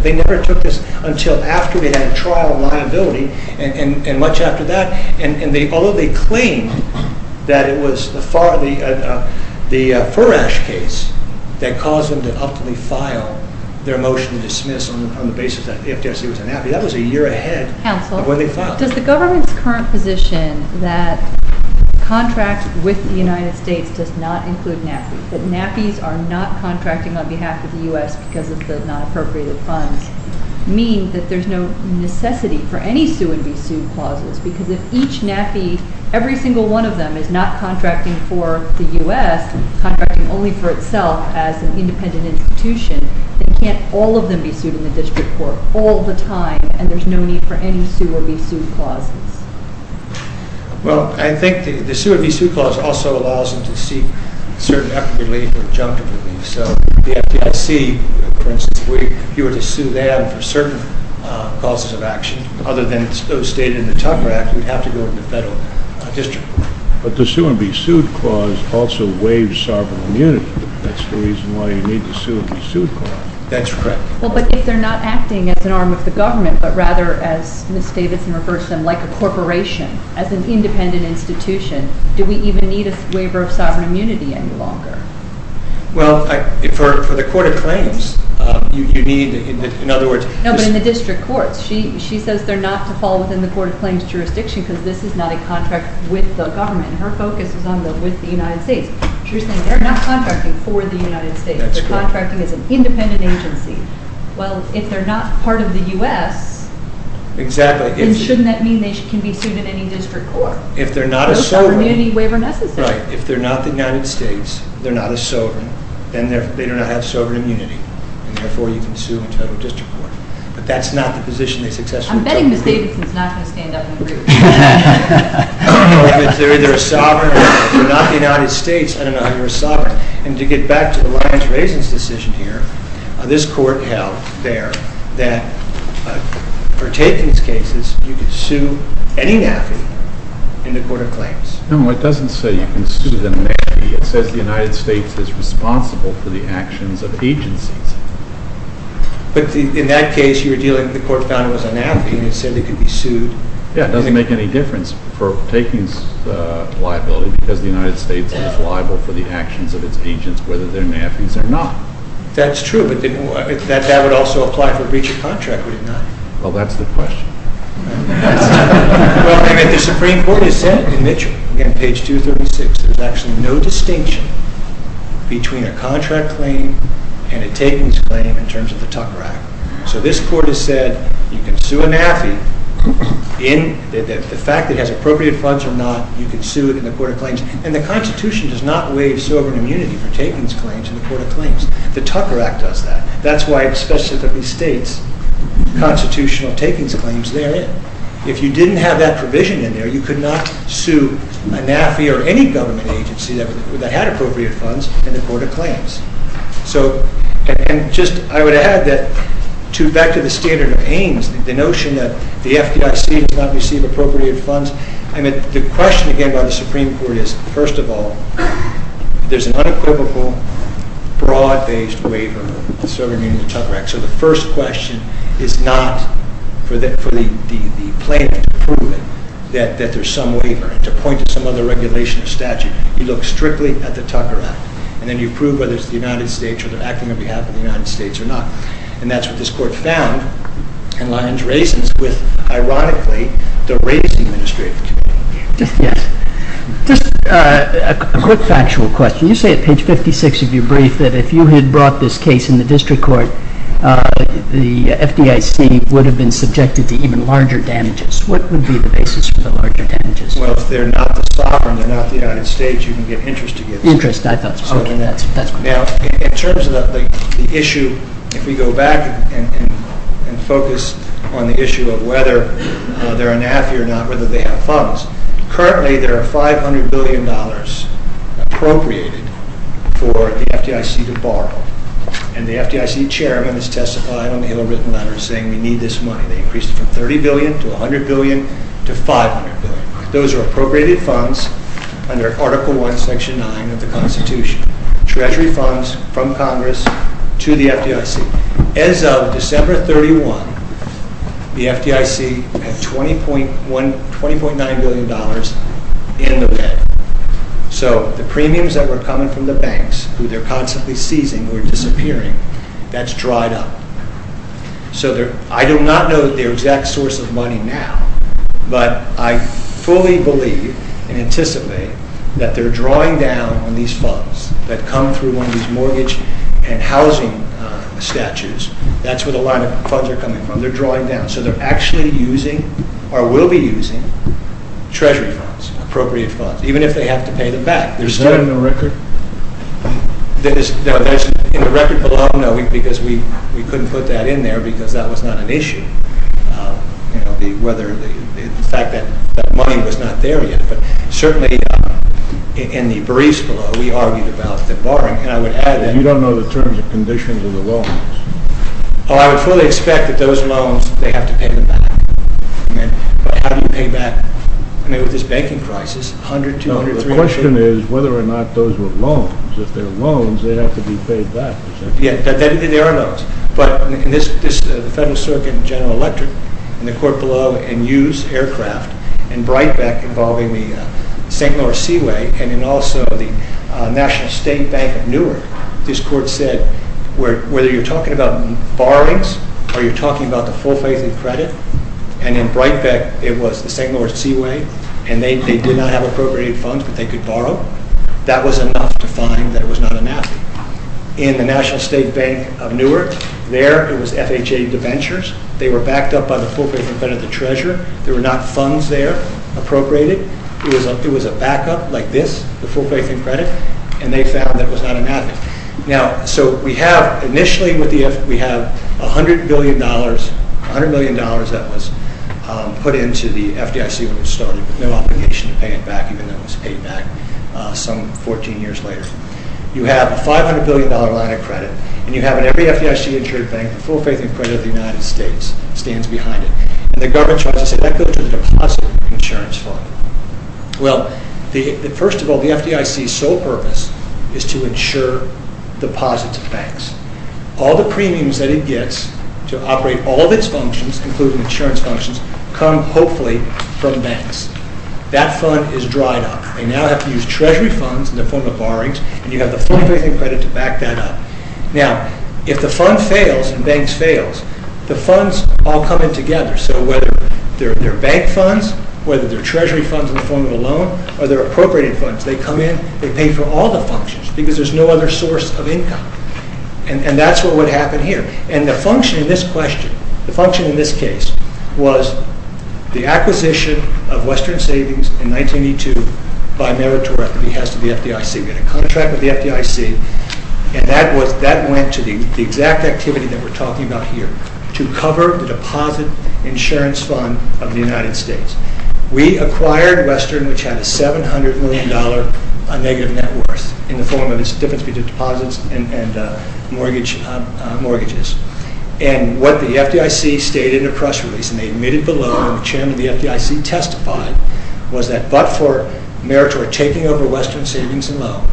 they never took this until after they had trial liability and much after that although they claimed that it was the Furash case that caused them to ultimately file on the basis that the FDIC was unhappy that was a year ahead of when they filed does the government's current position that contracts with the United States does not include NAPI, that NAPIs are not contracting on behalf of the U.S. because of the non-appropriated funds mean that there's no necessity for any sue and be sued clauses because if each NAPI, every single one of them is not contracting for the U.S. contracting only for itself as an independent institution then can't all of them be sued in the district court all the time and there's no need for any sue or be sued clauses well I think the sue or be sued clause also allows them to seek certain relief so the FDIC if you were to sue them for certain causes of action other than those stated in the Tucker Act you'd have to go to the federal district but the sue and be sued clause also waives sovereign immunity that's the reason why you need the sue and be sued clause that's correct well but if they're not acting as an arm of the government but rather as Ms. Davidson refers to them like a corporation as an independent institution do we even need a waiver of sovereign immunity any longer well for the court of claims you need no but in the district court she says they're not to fall within the court of claims jurisdiction because this is not a contract with the government and her focus is on the United States they're not contracting for the United States they're contracting as an independent agency well if they're not part of the U.S. then shouldn't that mean they can be sued in any district court if they're not a sovereign if they're not the United States they're not a sovereign then they do not have sovereign immunity and therefore you can sue in federal district court but that's not the position they successfully took I'm betting Ms. Davidson's not going to stand up and agree if they're either a sovereign or if they're not the United States I don't know how you're a sovereign and to get back to the lion's raisin's decision here this court held there that for takings cases you could sue any NAFI in the court of claims no it doesn't say you can sue them it says the United States is responsible for the actions of agencies but in that case the court found it was a NAFI and it said they could be sued yeah it doesn't make any difference for takings liability because the United States is liable for the actions of its agents whether they're NAFIs or not that's true but that would also apply for breach of contract would it not well that's the question and the Supreme Court has said in Mitchell, again page 236 there's actually no distinction between a contract claim and a takings claim in terms of the Tucker Act so this court has said you can sue a NAFI in the fact that it has appropriate funds or not you can sue it in the court of claims and the Constitution does not waive sovereign immunity for takings claims in the court of claims the Tucker Act does that that's why it specifically states constitutional takings claims there in if you didn't have that provision in there you could not sue a NAFI or any government agency that had appropriate funds in the court of claims so and just I would add that back to the standard of aims the notion that the FDIC does not receive appropriate funds the question again by the Supreme Court is first of all there's an unequivocal broad based waiver so the first question is not for the plaintiff to prove it that there's some waiver to point to some other regulation or statute you look strictly at the Tucker Act and then you prove whether it's the United States making sure they're acting on behalf of the United States or not and that's what this court found and Lyons raisins with ironically the race administrative committee just a quick factual question you say at page 56 of your brief that if you had brought this case in the district court the FDIC would have been subjected to even larger damages what would be the basis for the larger damages well if they're not the sovereign they're not the United States you can get interest to get this interest I thought now in terms of the issue if we go back and focus on the issue of whether they're an AFI or not whether they have funds currently there are 500 billion dollars appropriated for the FDIC to borrow and the FDIC chairman has testified in a written letter saying we need this money they increased it from 30 billion to 100 billion to 500 billion those are appropriated funds under article 1 section 9 of the constitution treasury funds from congress to the FDIC as of December 31 the FDIC had 20.1 20.9 billion dollars in the bed so the premiums that were coming from the banks who they're constantly seizing disappearing that's dried up so I do not know the exact source of money now but I fully believe and anticipate that they're drawing down on these funds that come through one of these mortgage and housing statutes that's where the line of funds are coming from they're drawing down so they're actually using or will be using treasury funds appropriate funds even if they have to pay them back is that in the record? no in the record below no because we couldn't put that in there because that was not an issue whether the fact that money was not there yet but certainly in the briefs below we argued about the borrowing and I would add that you don't know the terms and conditions of the loans oh I would fully expect that those loans they have to pay them back but how do you pay back I mean with this banking crisis 100, 200, 300 the question is whether or not those were loans if they're loans they have to be paid back yeah there are loans but in this federal circuit general electric in the court below and used aircraft and Brightbeck involving the St. Louis Seaway and also the National State Bank of Newark this court said whether you're talking about borrowings or you're talking about the full face of credit and in Brightbeck it was the St. Louis Seaway and they did not have appropriate funds but they could borrow that was enough to find that it was not enough in the National State Bank of Newark there it was FHA debentures they were backed up by the full face of credit the treasurer there were not funds there appropriated it was a backup like this the full face of credit and they found that it was not enough so we have initially with the F we have 100 billion dollars 100 million dollars that was put into the FDIC when it started with no obligation to pay it back even though it was paid back some 14 years later you have a 500 billion dollar line of credit and you have in every FDIC insured bank the full face of credit of the United States stands behind it and the government says that goes to the deposit insurance fund well first of all the FDIC's sole purpose is to insure deposits of banks all the premiums that it gets to operate all of its functions including insurance functions come hopefully from banks that fund is dried up they now have to use treasury funds in the form of borrowings and you have the full face of credit to back that up now if the fund fails and banks fails the funds all come in together so whether they're bank funds whether they're treasury funds in the form of a loan or they're appropriated funds they come in they pay for all the functions because there's no other source of income and that's what would happen here and the function in this question the function in this case was the acquisition of Western Savings in 1982 by Meritor at the FDIC we had a contract with the FDIC and that went to the exact activity that we're talking about here to cover the deposit insurance fund of the United States we acquired Western which had a 700 million dollar negative net worth in the form of its difference between deposits and mortgages and what the FDIC stated in a press release and they admitted below and the chairman of the FDIC testified was that but for Meritor taking over Western Savings and Loan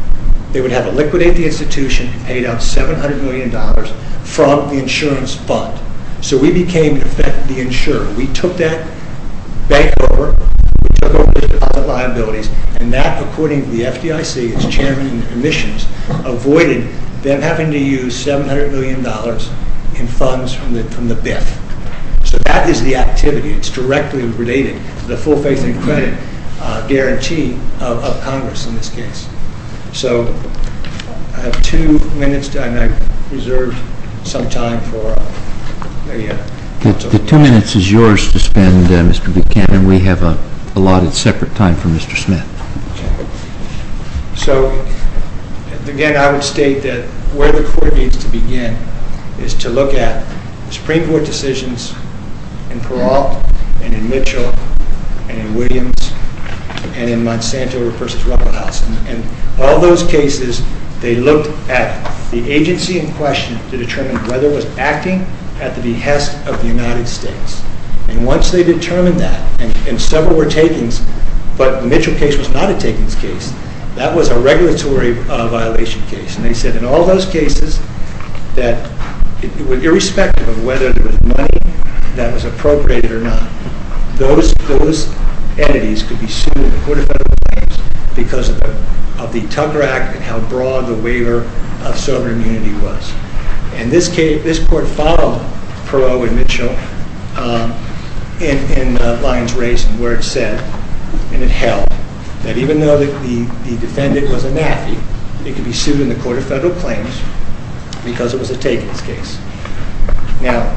they would have to liquidate the institution and paid out 700 million dollars from the insurance fund so we became in effect the insurer we took that bank over we took over the deposit liabilities and that according to the FDIC as chairman of the commissions avoided them having to use 700 million dollars in funds from the BIF so that is the activity it's directly related to the full faith and credit guarantee of congress in this case so I have two minutes and I reserved some time for the two minutes is yours to spend Mr. Buchanan we have allotted separate time for Mr. Smith so again I would state that where the court needs to begin is to look at Supreme Court decisions in Peralt and in Mitchell and in Williams and in Monsanto versus Ruckelhausen and all those cases they looked at the agency in question to determine whether it was acting at the behest of the United States and once they determined that and several were takings but the Mitchell case was not a takings case that was a regulatory violation case and they said in all those cases that irrespective of whether there was money that was appropriated or not those entities could be sued in the Court of Federal Claims because of the Tucker Act and how broad the waiver of sovereign immunity was and this court followed Peralt and Mitchell in Lyons Race and where it said and it held that even though the defendant was a NAFI it could be sued in the Court of Federal Claims because it was a takings case. Now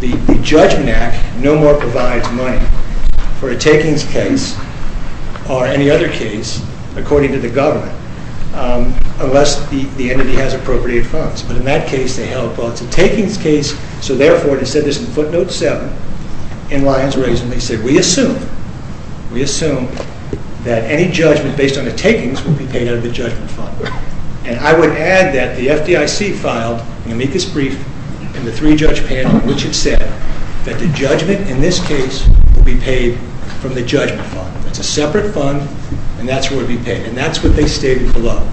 the Judgment Act no more provides money for a takings case or any other case according to the government unless the entity has appropriated funds but in that case they held well it's a takings case so therefore they said this in footnote 7 in Lyons Race and they said we assume we assume that any judgment based on a takings would be paid out of the judgment fund and I would add that the FDIC filed an amicus brief in the three judge panel which it said that the judgment in this case would be paid from the judgment fund. It's a separate fund and that's where it would be paid and that's what they stated below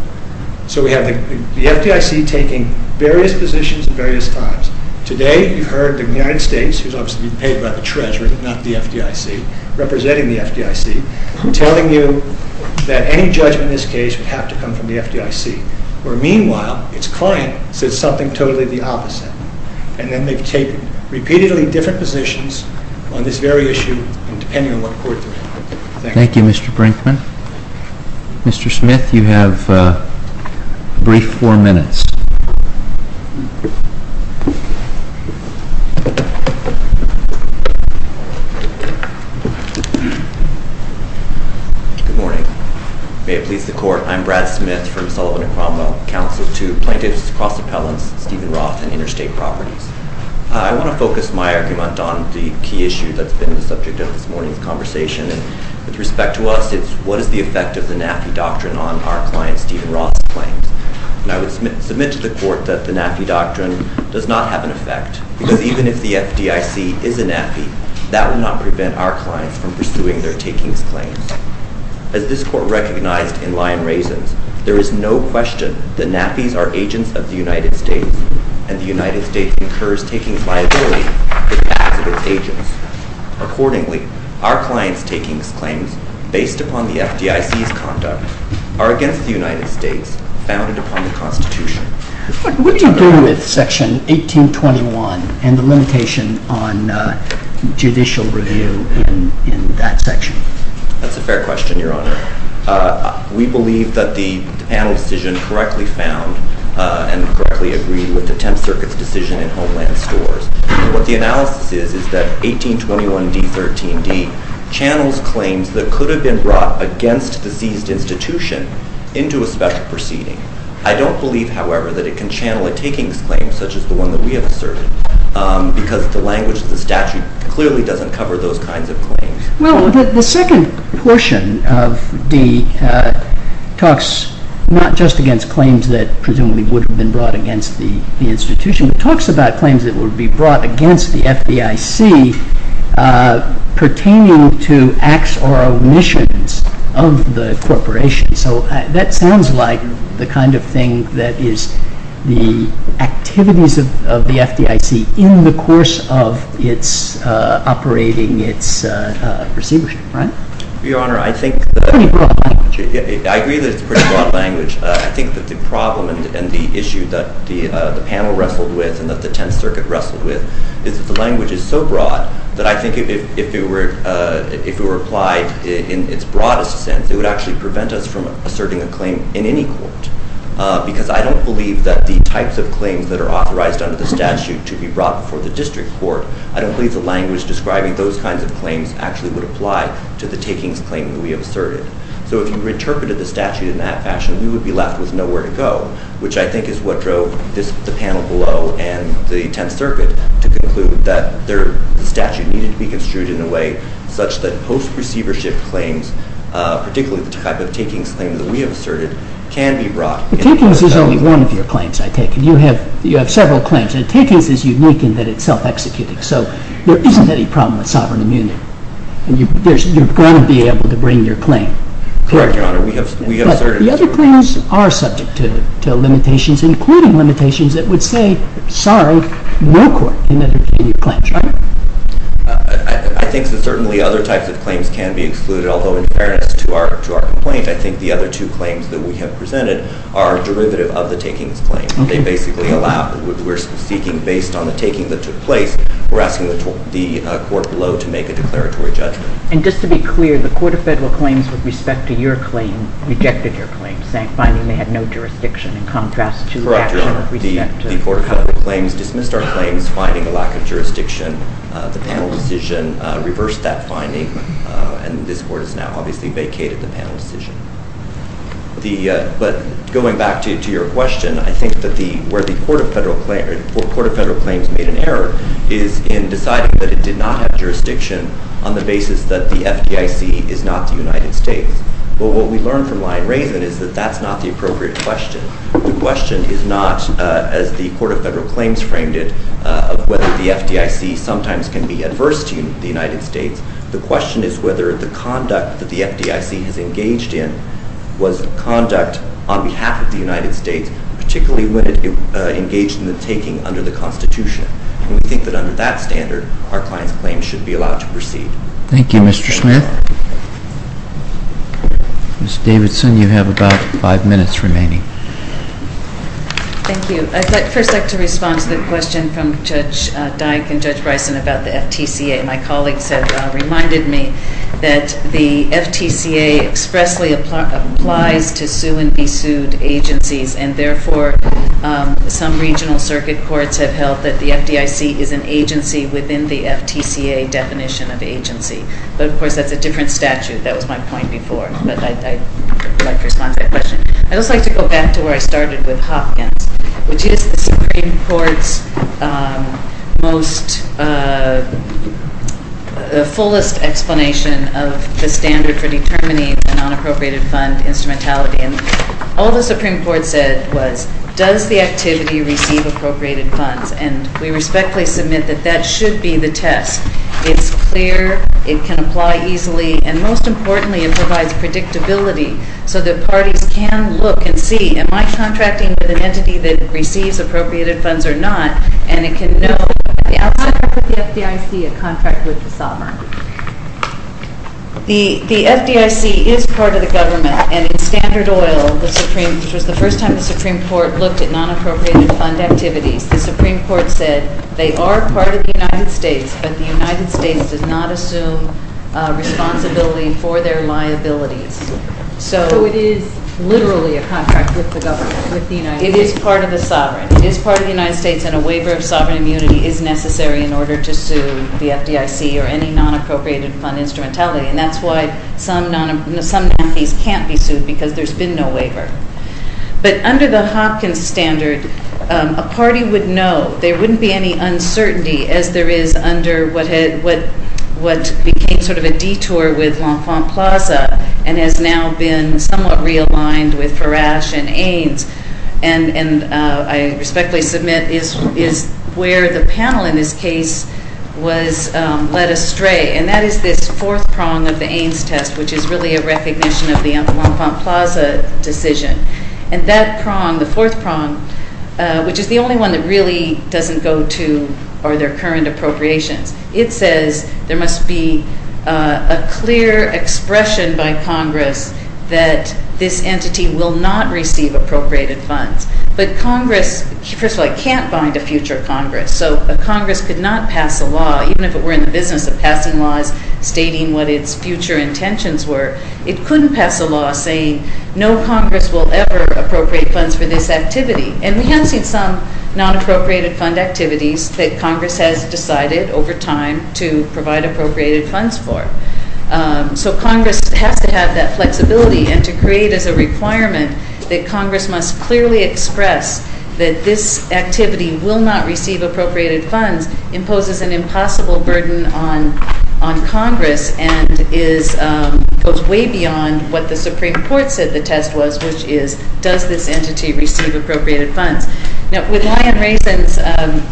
so we have the FDIC taking various positions at various times today you've heard the United States who's obviously being paid by the Treasury not the FDIC representing the FDIC telling you that any judgment in this case would have to come from the FDIC where meanwhile it's client says something totally the opposite and then they've taken repeatedly different positions on this very issue and depending on what court they're in. Thank you. Thank you Mr. Brinkman. Mr. Smith you have a brief four minutes. Good morning. May it please the court. I'm Brad Smith from Sullivan and Cromwell Council to Plaintiffs Cross Appellants Stephen Roth and Interstate Properties. I want to focus my argument on the key issue that's been the subject of this morning's conversation and with respect to us it's what is the effect of the NAFI this is not the case. It's not the case. It's not the case. I said to the court that the NAFI doctrine does not have an effect because even if the FDIC is a NAFI that would not prevent our clients from pursuing their takings claims. As this court recognized in Lion Raisins there is no question that NAFIs are agents of the United States and the United States incurs takings liability for the acts of its agents. Accordingly our clients takings claims based upon the FDIC's conduct are against the United States founded upon the Constitution. What do you do with section 1821 and the limitation on judicial review in that section? That's a fair question, Your Honor. We believe that the panel decision correctly found and correctly agreed with the Tenth Circuit's decision in Homeland Stores. What the analysis is is that 1821d.13d channels claims that could have been brought against the seized institution into a special proceeding. I don't believe, however, that it can channel a takings claim such as the one that we have asserted because the language of the statute clearly doesn't cover those kinds of claims. Well, the second portion of the talks not just against claims that presumably would have been brought against the institution but talks about claims that would be brought against the FDIC pertaining to acts or omissions of the corporation. That sounds like the kind of thing that is the activities of the FDIC in the course of its operating its receivership, right? Your Honor, I think that I agree that it's a pretty broad language. I think that the problem and the issue that the panel wrestled with and that the Tenth Circuit wrestled with is that the language is so broad that I think if it were applied in its broadest sense it would actually prevent us from asserting a claim in any court because I don't believe that the types of claims that are authorized under the statute to be brought before the district court. I don't believe the language describing those kinds of claims actually would apply to the takings claim that we have asserted. So if you reinterpreted the statute in that fashion, we would be left with nowhere to go, which I think is what drove the panel below and the Tenth Circuit to conclude that the statute needed to be brought before the district court. before the district court, particularly the receivership claims, particularly the type of takings claims that we have asserted, can be brought in any court. The takings is only one of your claims, I take it. You have several claims, and takings is unique in that it's self-executing, so there isn't any problem with sovereign immunity. You're going to be able to bring your claim. Correct, Your Honor, we have asserted it. But the other claims are subject to can be excluded, although in fairness to our complaint, I think the other two claims that we have presented are derivative of the takings claim. They basically allow what we're seeking based on the taking that took place. We're asking the court below to make a declaratory judgment. And just to be clear, the Court of Federal Claims, with respect to your claim, rejected your claim, saying, finding they had no jurisdiction, in contrast to the action with respect to... Correct, Your Honor, the Court of Federal Claims dismissed our claims, finding a lack of jurisdiction. The panel decision reversed that finding, and this Court has now obviously vacated the panel decision. But going back to your question, I think that where the Court of Federal Claims made an error is in deciding that it did not have jurisdiction on the basis that the FDIC is not the United States. But what we learned from Lyon-Raven is that that's not the appropriate question. The question is not, as the Court of Federal Claims framed it, whether the FDIC sometimes can be adverse to the United States. The question is whether the conduct that the FDIC has engaged in was conduct on behalf of the United States, particularly when it engaged in the taking under the Constitution. And we think that under that standard, our client's claim should be allowed to proceed. Thank you, Mr. Smith. Ms. Davidson, you have about five minutes remaining. Thank you. I'd first like to respond to the question from Judge Dyke and Judge Bryson about the FTCA. My colleagues have reminded me that the FTCA expressly applies to sue-and-be- sued agencies, and therefore some regional circuit courts have held that the FDIC is an agency within the FTCA definition of agency. Of course, that's a different statute. That was my point before, but I'd like to respond to that question. I'd also like to go back to where I started with Hopkins, which is the Supreme Court's most fullest explanation of the standard for determining a non-appropriated fund instrumentality. And all the Supreme Court said was, does the activity receive appropriated funds? And we respectfully submit that that should be the test. It's clear, it can apply easily, and most importantly, it provides predictability so that parties can look and see, am I contracting with an entity that receives appropriated funds or not, and it can know at the outset, is the FDIC a contract with the sovereign? The FDIC is part of the government, and in Standard Oil, which was the first time the Supreme Court looked at non-appropriated fund activities, the Supreme Court said they are part of the United States, but the United States does not assume responsibility for their liabilities. So it is literally a contract with the government, with the United States. It is part of the sovereign. It is part of the United States, and a waiver of sovereign immunity is necessary in order to sue the FDIC or any non-appropriated fund instrumentality, and that's why some nominees can't be sued because there's been no waiver. But under the Hopkins standard, a party would know. There wouldn't be any uncertainty, as there is under what became sort of a detour with L'Enfant Plaza, and has now been somewhat realigned with Parash and Ains, and I respectfully submit is where the panel in this case was led astray, and that is this fourth prong of the Ains test, which is really a recognition of the L'Enfant Plaza decision, and that prong, the fourth prong, which is the only one that really doesn't go to, or their current appropriations. It says there must be a clear expression by Congress that this entity will not receive appropriated funds, but Congress, first of all, can't bind a future Congress, so a Congress could not pass a law, even if it were in the business of passing laws stating what its future intentions were, it couldn't pass a law saying no Congress will ever appropriate funds for this activity, and we have seen some non-appropriated fund activities that Congress has decided over time to provide appropriated funds for. So Congress has to have that flexibility, and to create as a requirement that Congress must clearly express that this activity will not receive appropriated funds imposes an impossible burden on Congress, and goes way beyond what the Supreme Court said the test was, which is does this entity receive appropriated funds? With Lion Raisins,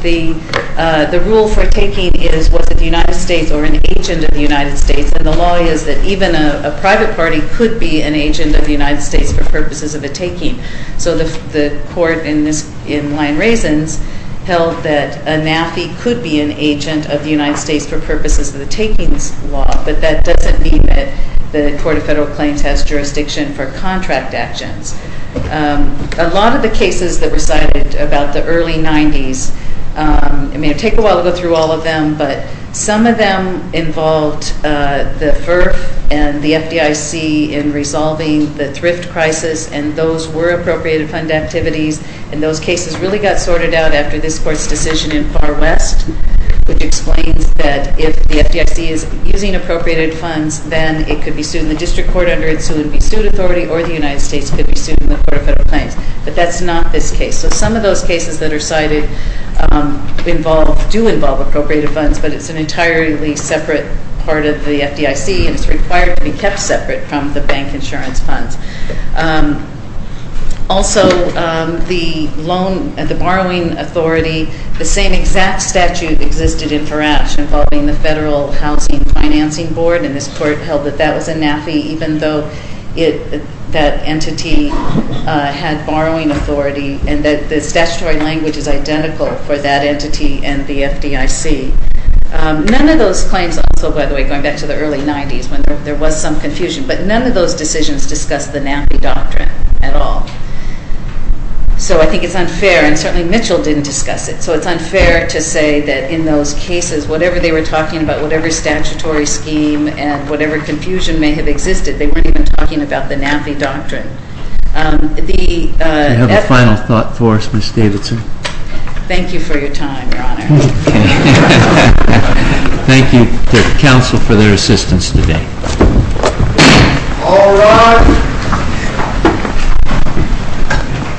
the rule for taking is was it the United States or an agent of the United States, and the law is that even a private party could be an agent of the United States for purposes of a taking. So the court in Lion Raisins held that a NAFI could be an agent of the United States for purposes of the takings law, but that doesn't mean that the Court of Federal Claims has jurisdiction for contract actions. A lot of the cases that were cited about the early 90s, it may take a while to go through all of them, but some of them involved the FERF and the FDIC in resolving the thrift crisis, and those were appropriated fund activities, and those cases really got sorted out after this Court's decision in Far West, which explains that if the FDIC is using appropriated funds, then it could be sued in the District Court under its soon-to-be-sued authority, or the United States could be sued in the Court of Federal Claims. But that's not this case. So some of those do involve appropriated funds, but it's an entirely separate part of the FDIC, and it's required to be kept separate from the bank insurance funds. Also, the borrowing authority, the same exact statute existed in Farash involving the Federal Housing Financing Board, and this Court held that that was a NAFI, even though that entity had borrowing authority, and that the statutory language is identical for that entity and the FDIC. None of those claims, also, by the way, going back to the early 90s, when there was some confusion, but none of those decisions discussed the NAFI doctrine at all. So I think it's unfair, and certainly Mitchell didn't discuss it, so it's unfair to say that in those cases, whatever they were talking about, whatever statutory scheme, and whatever confusion may have existed, they weren't even talking about the NAFI doctrine. The... Do you have a final thought for us, Ms. Davidson? Thank you for your time, Your Honor. Thank you to the Council for their assistance today. All rise.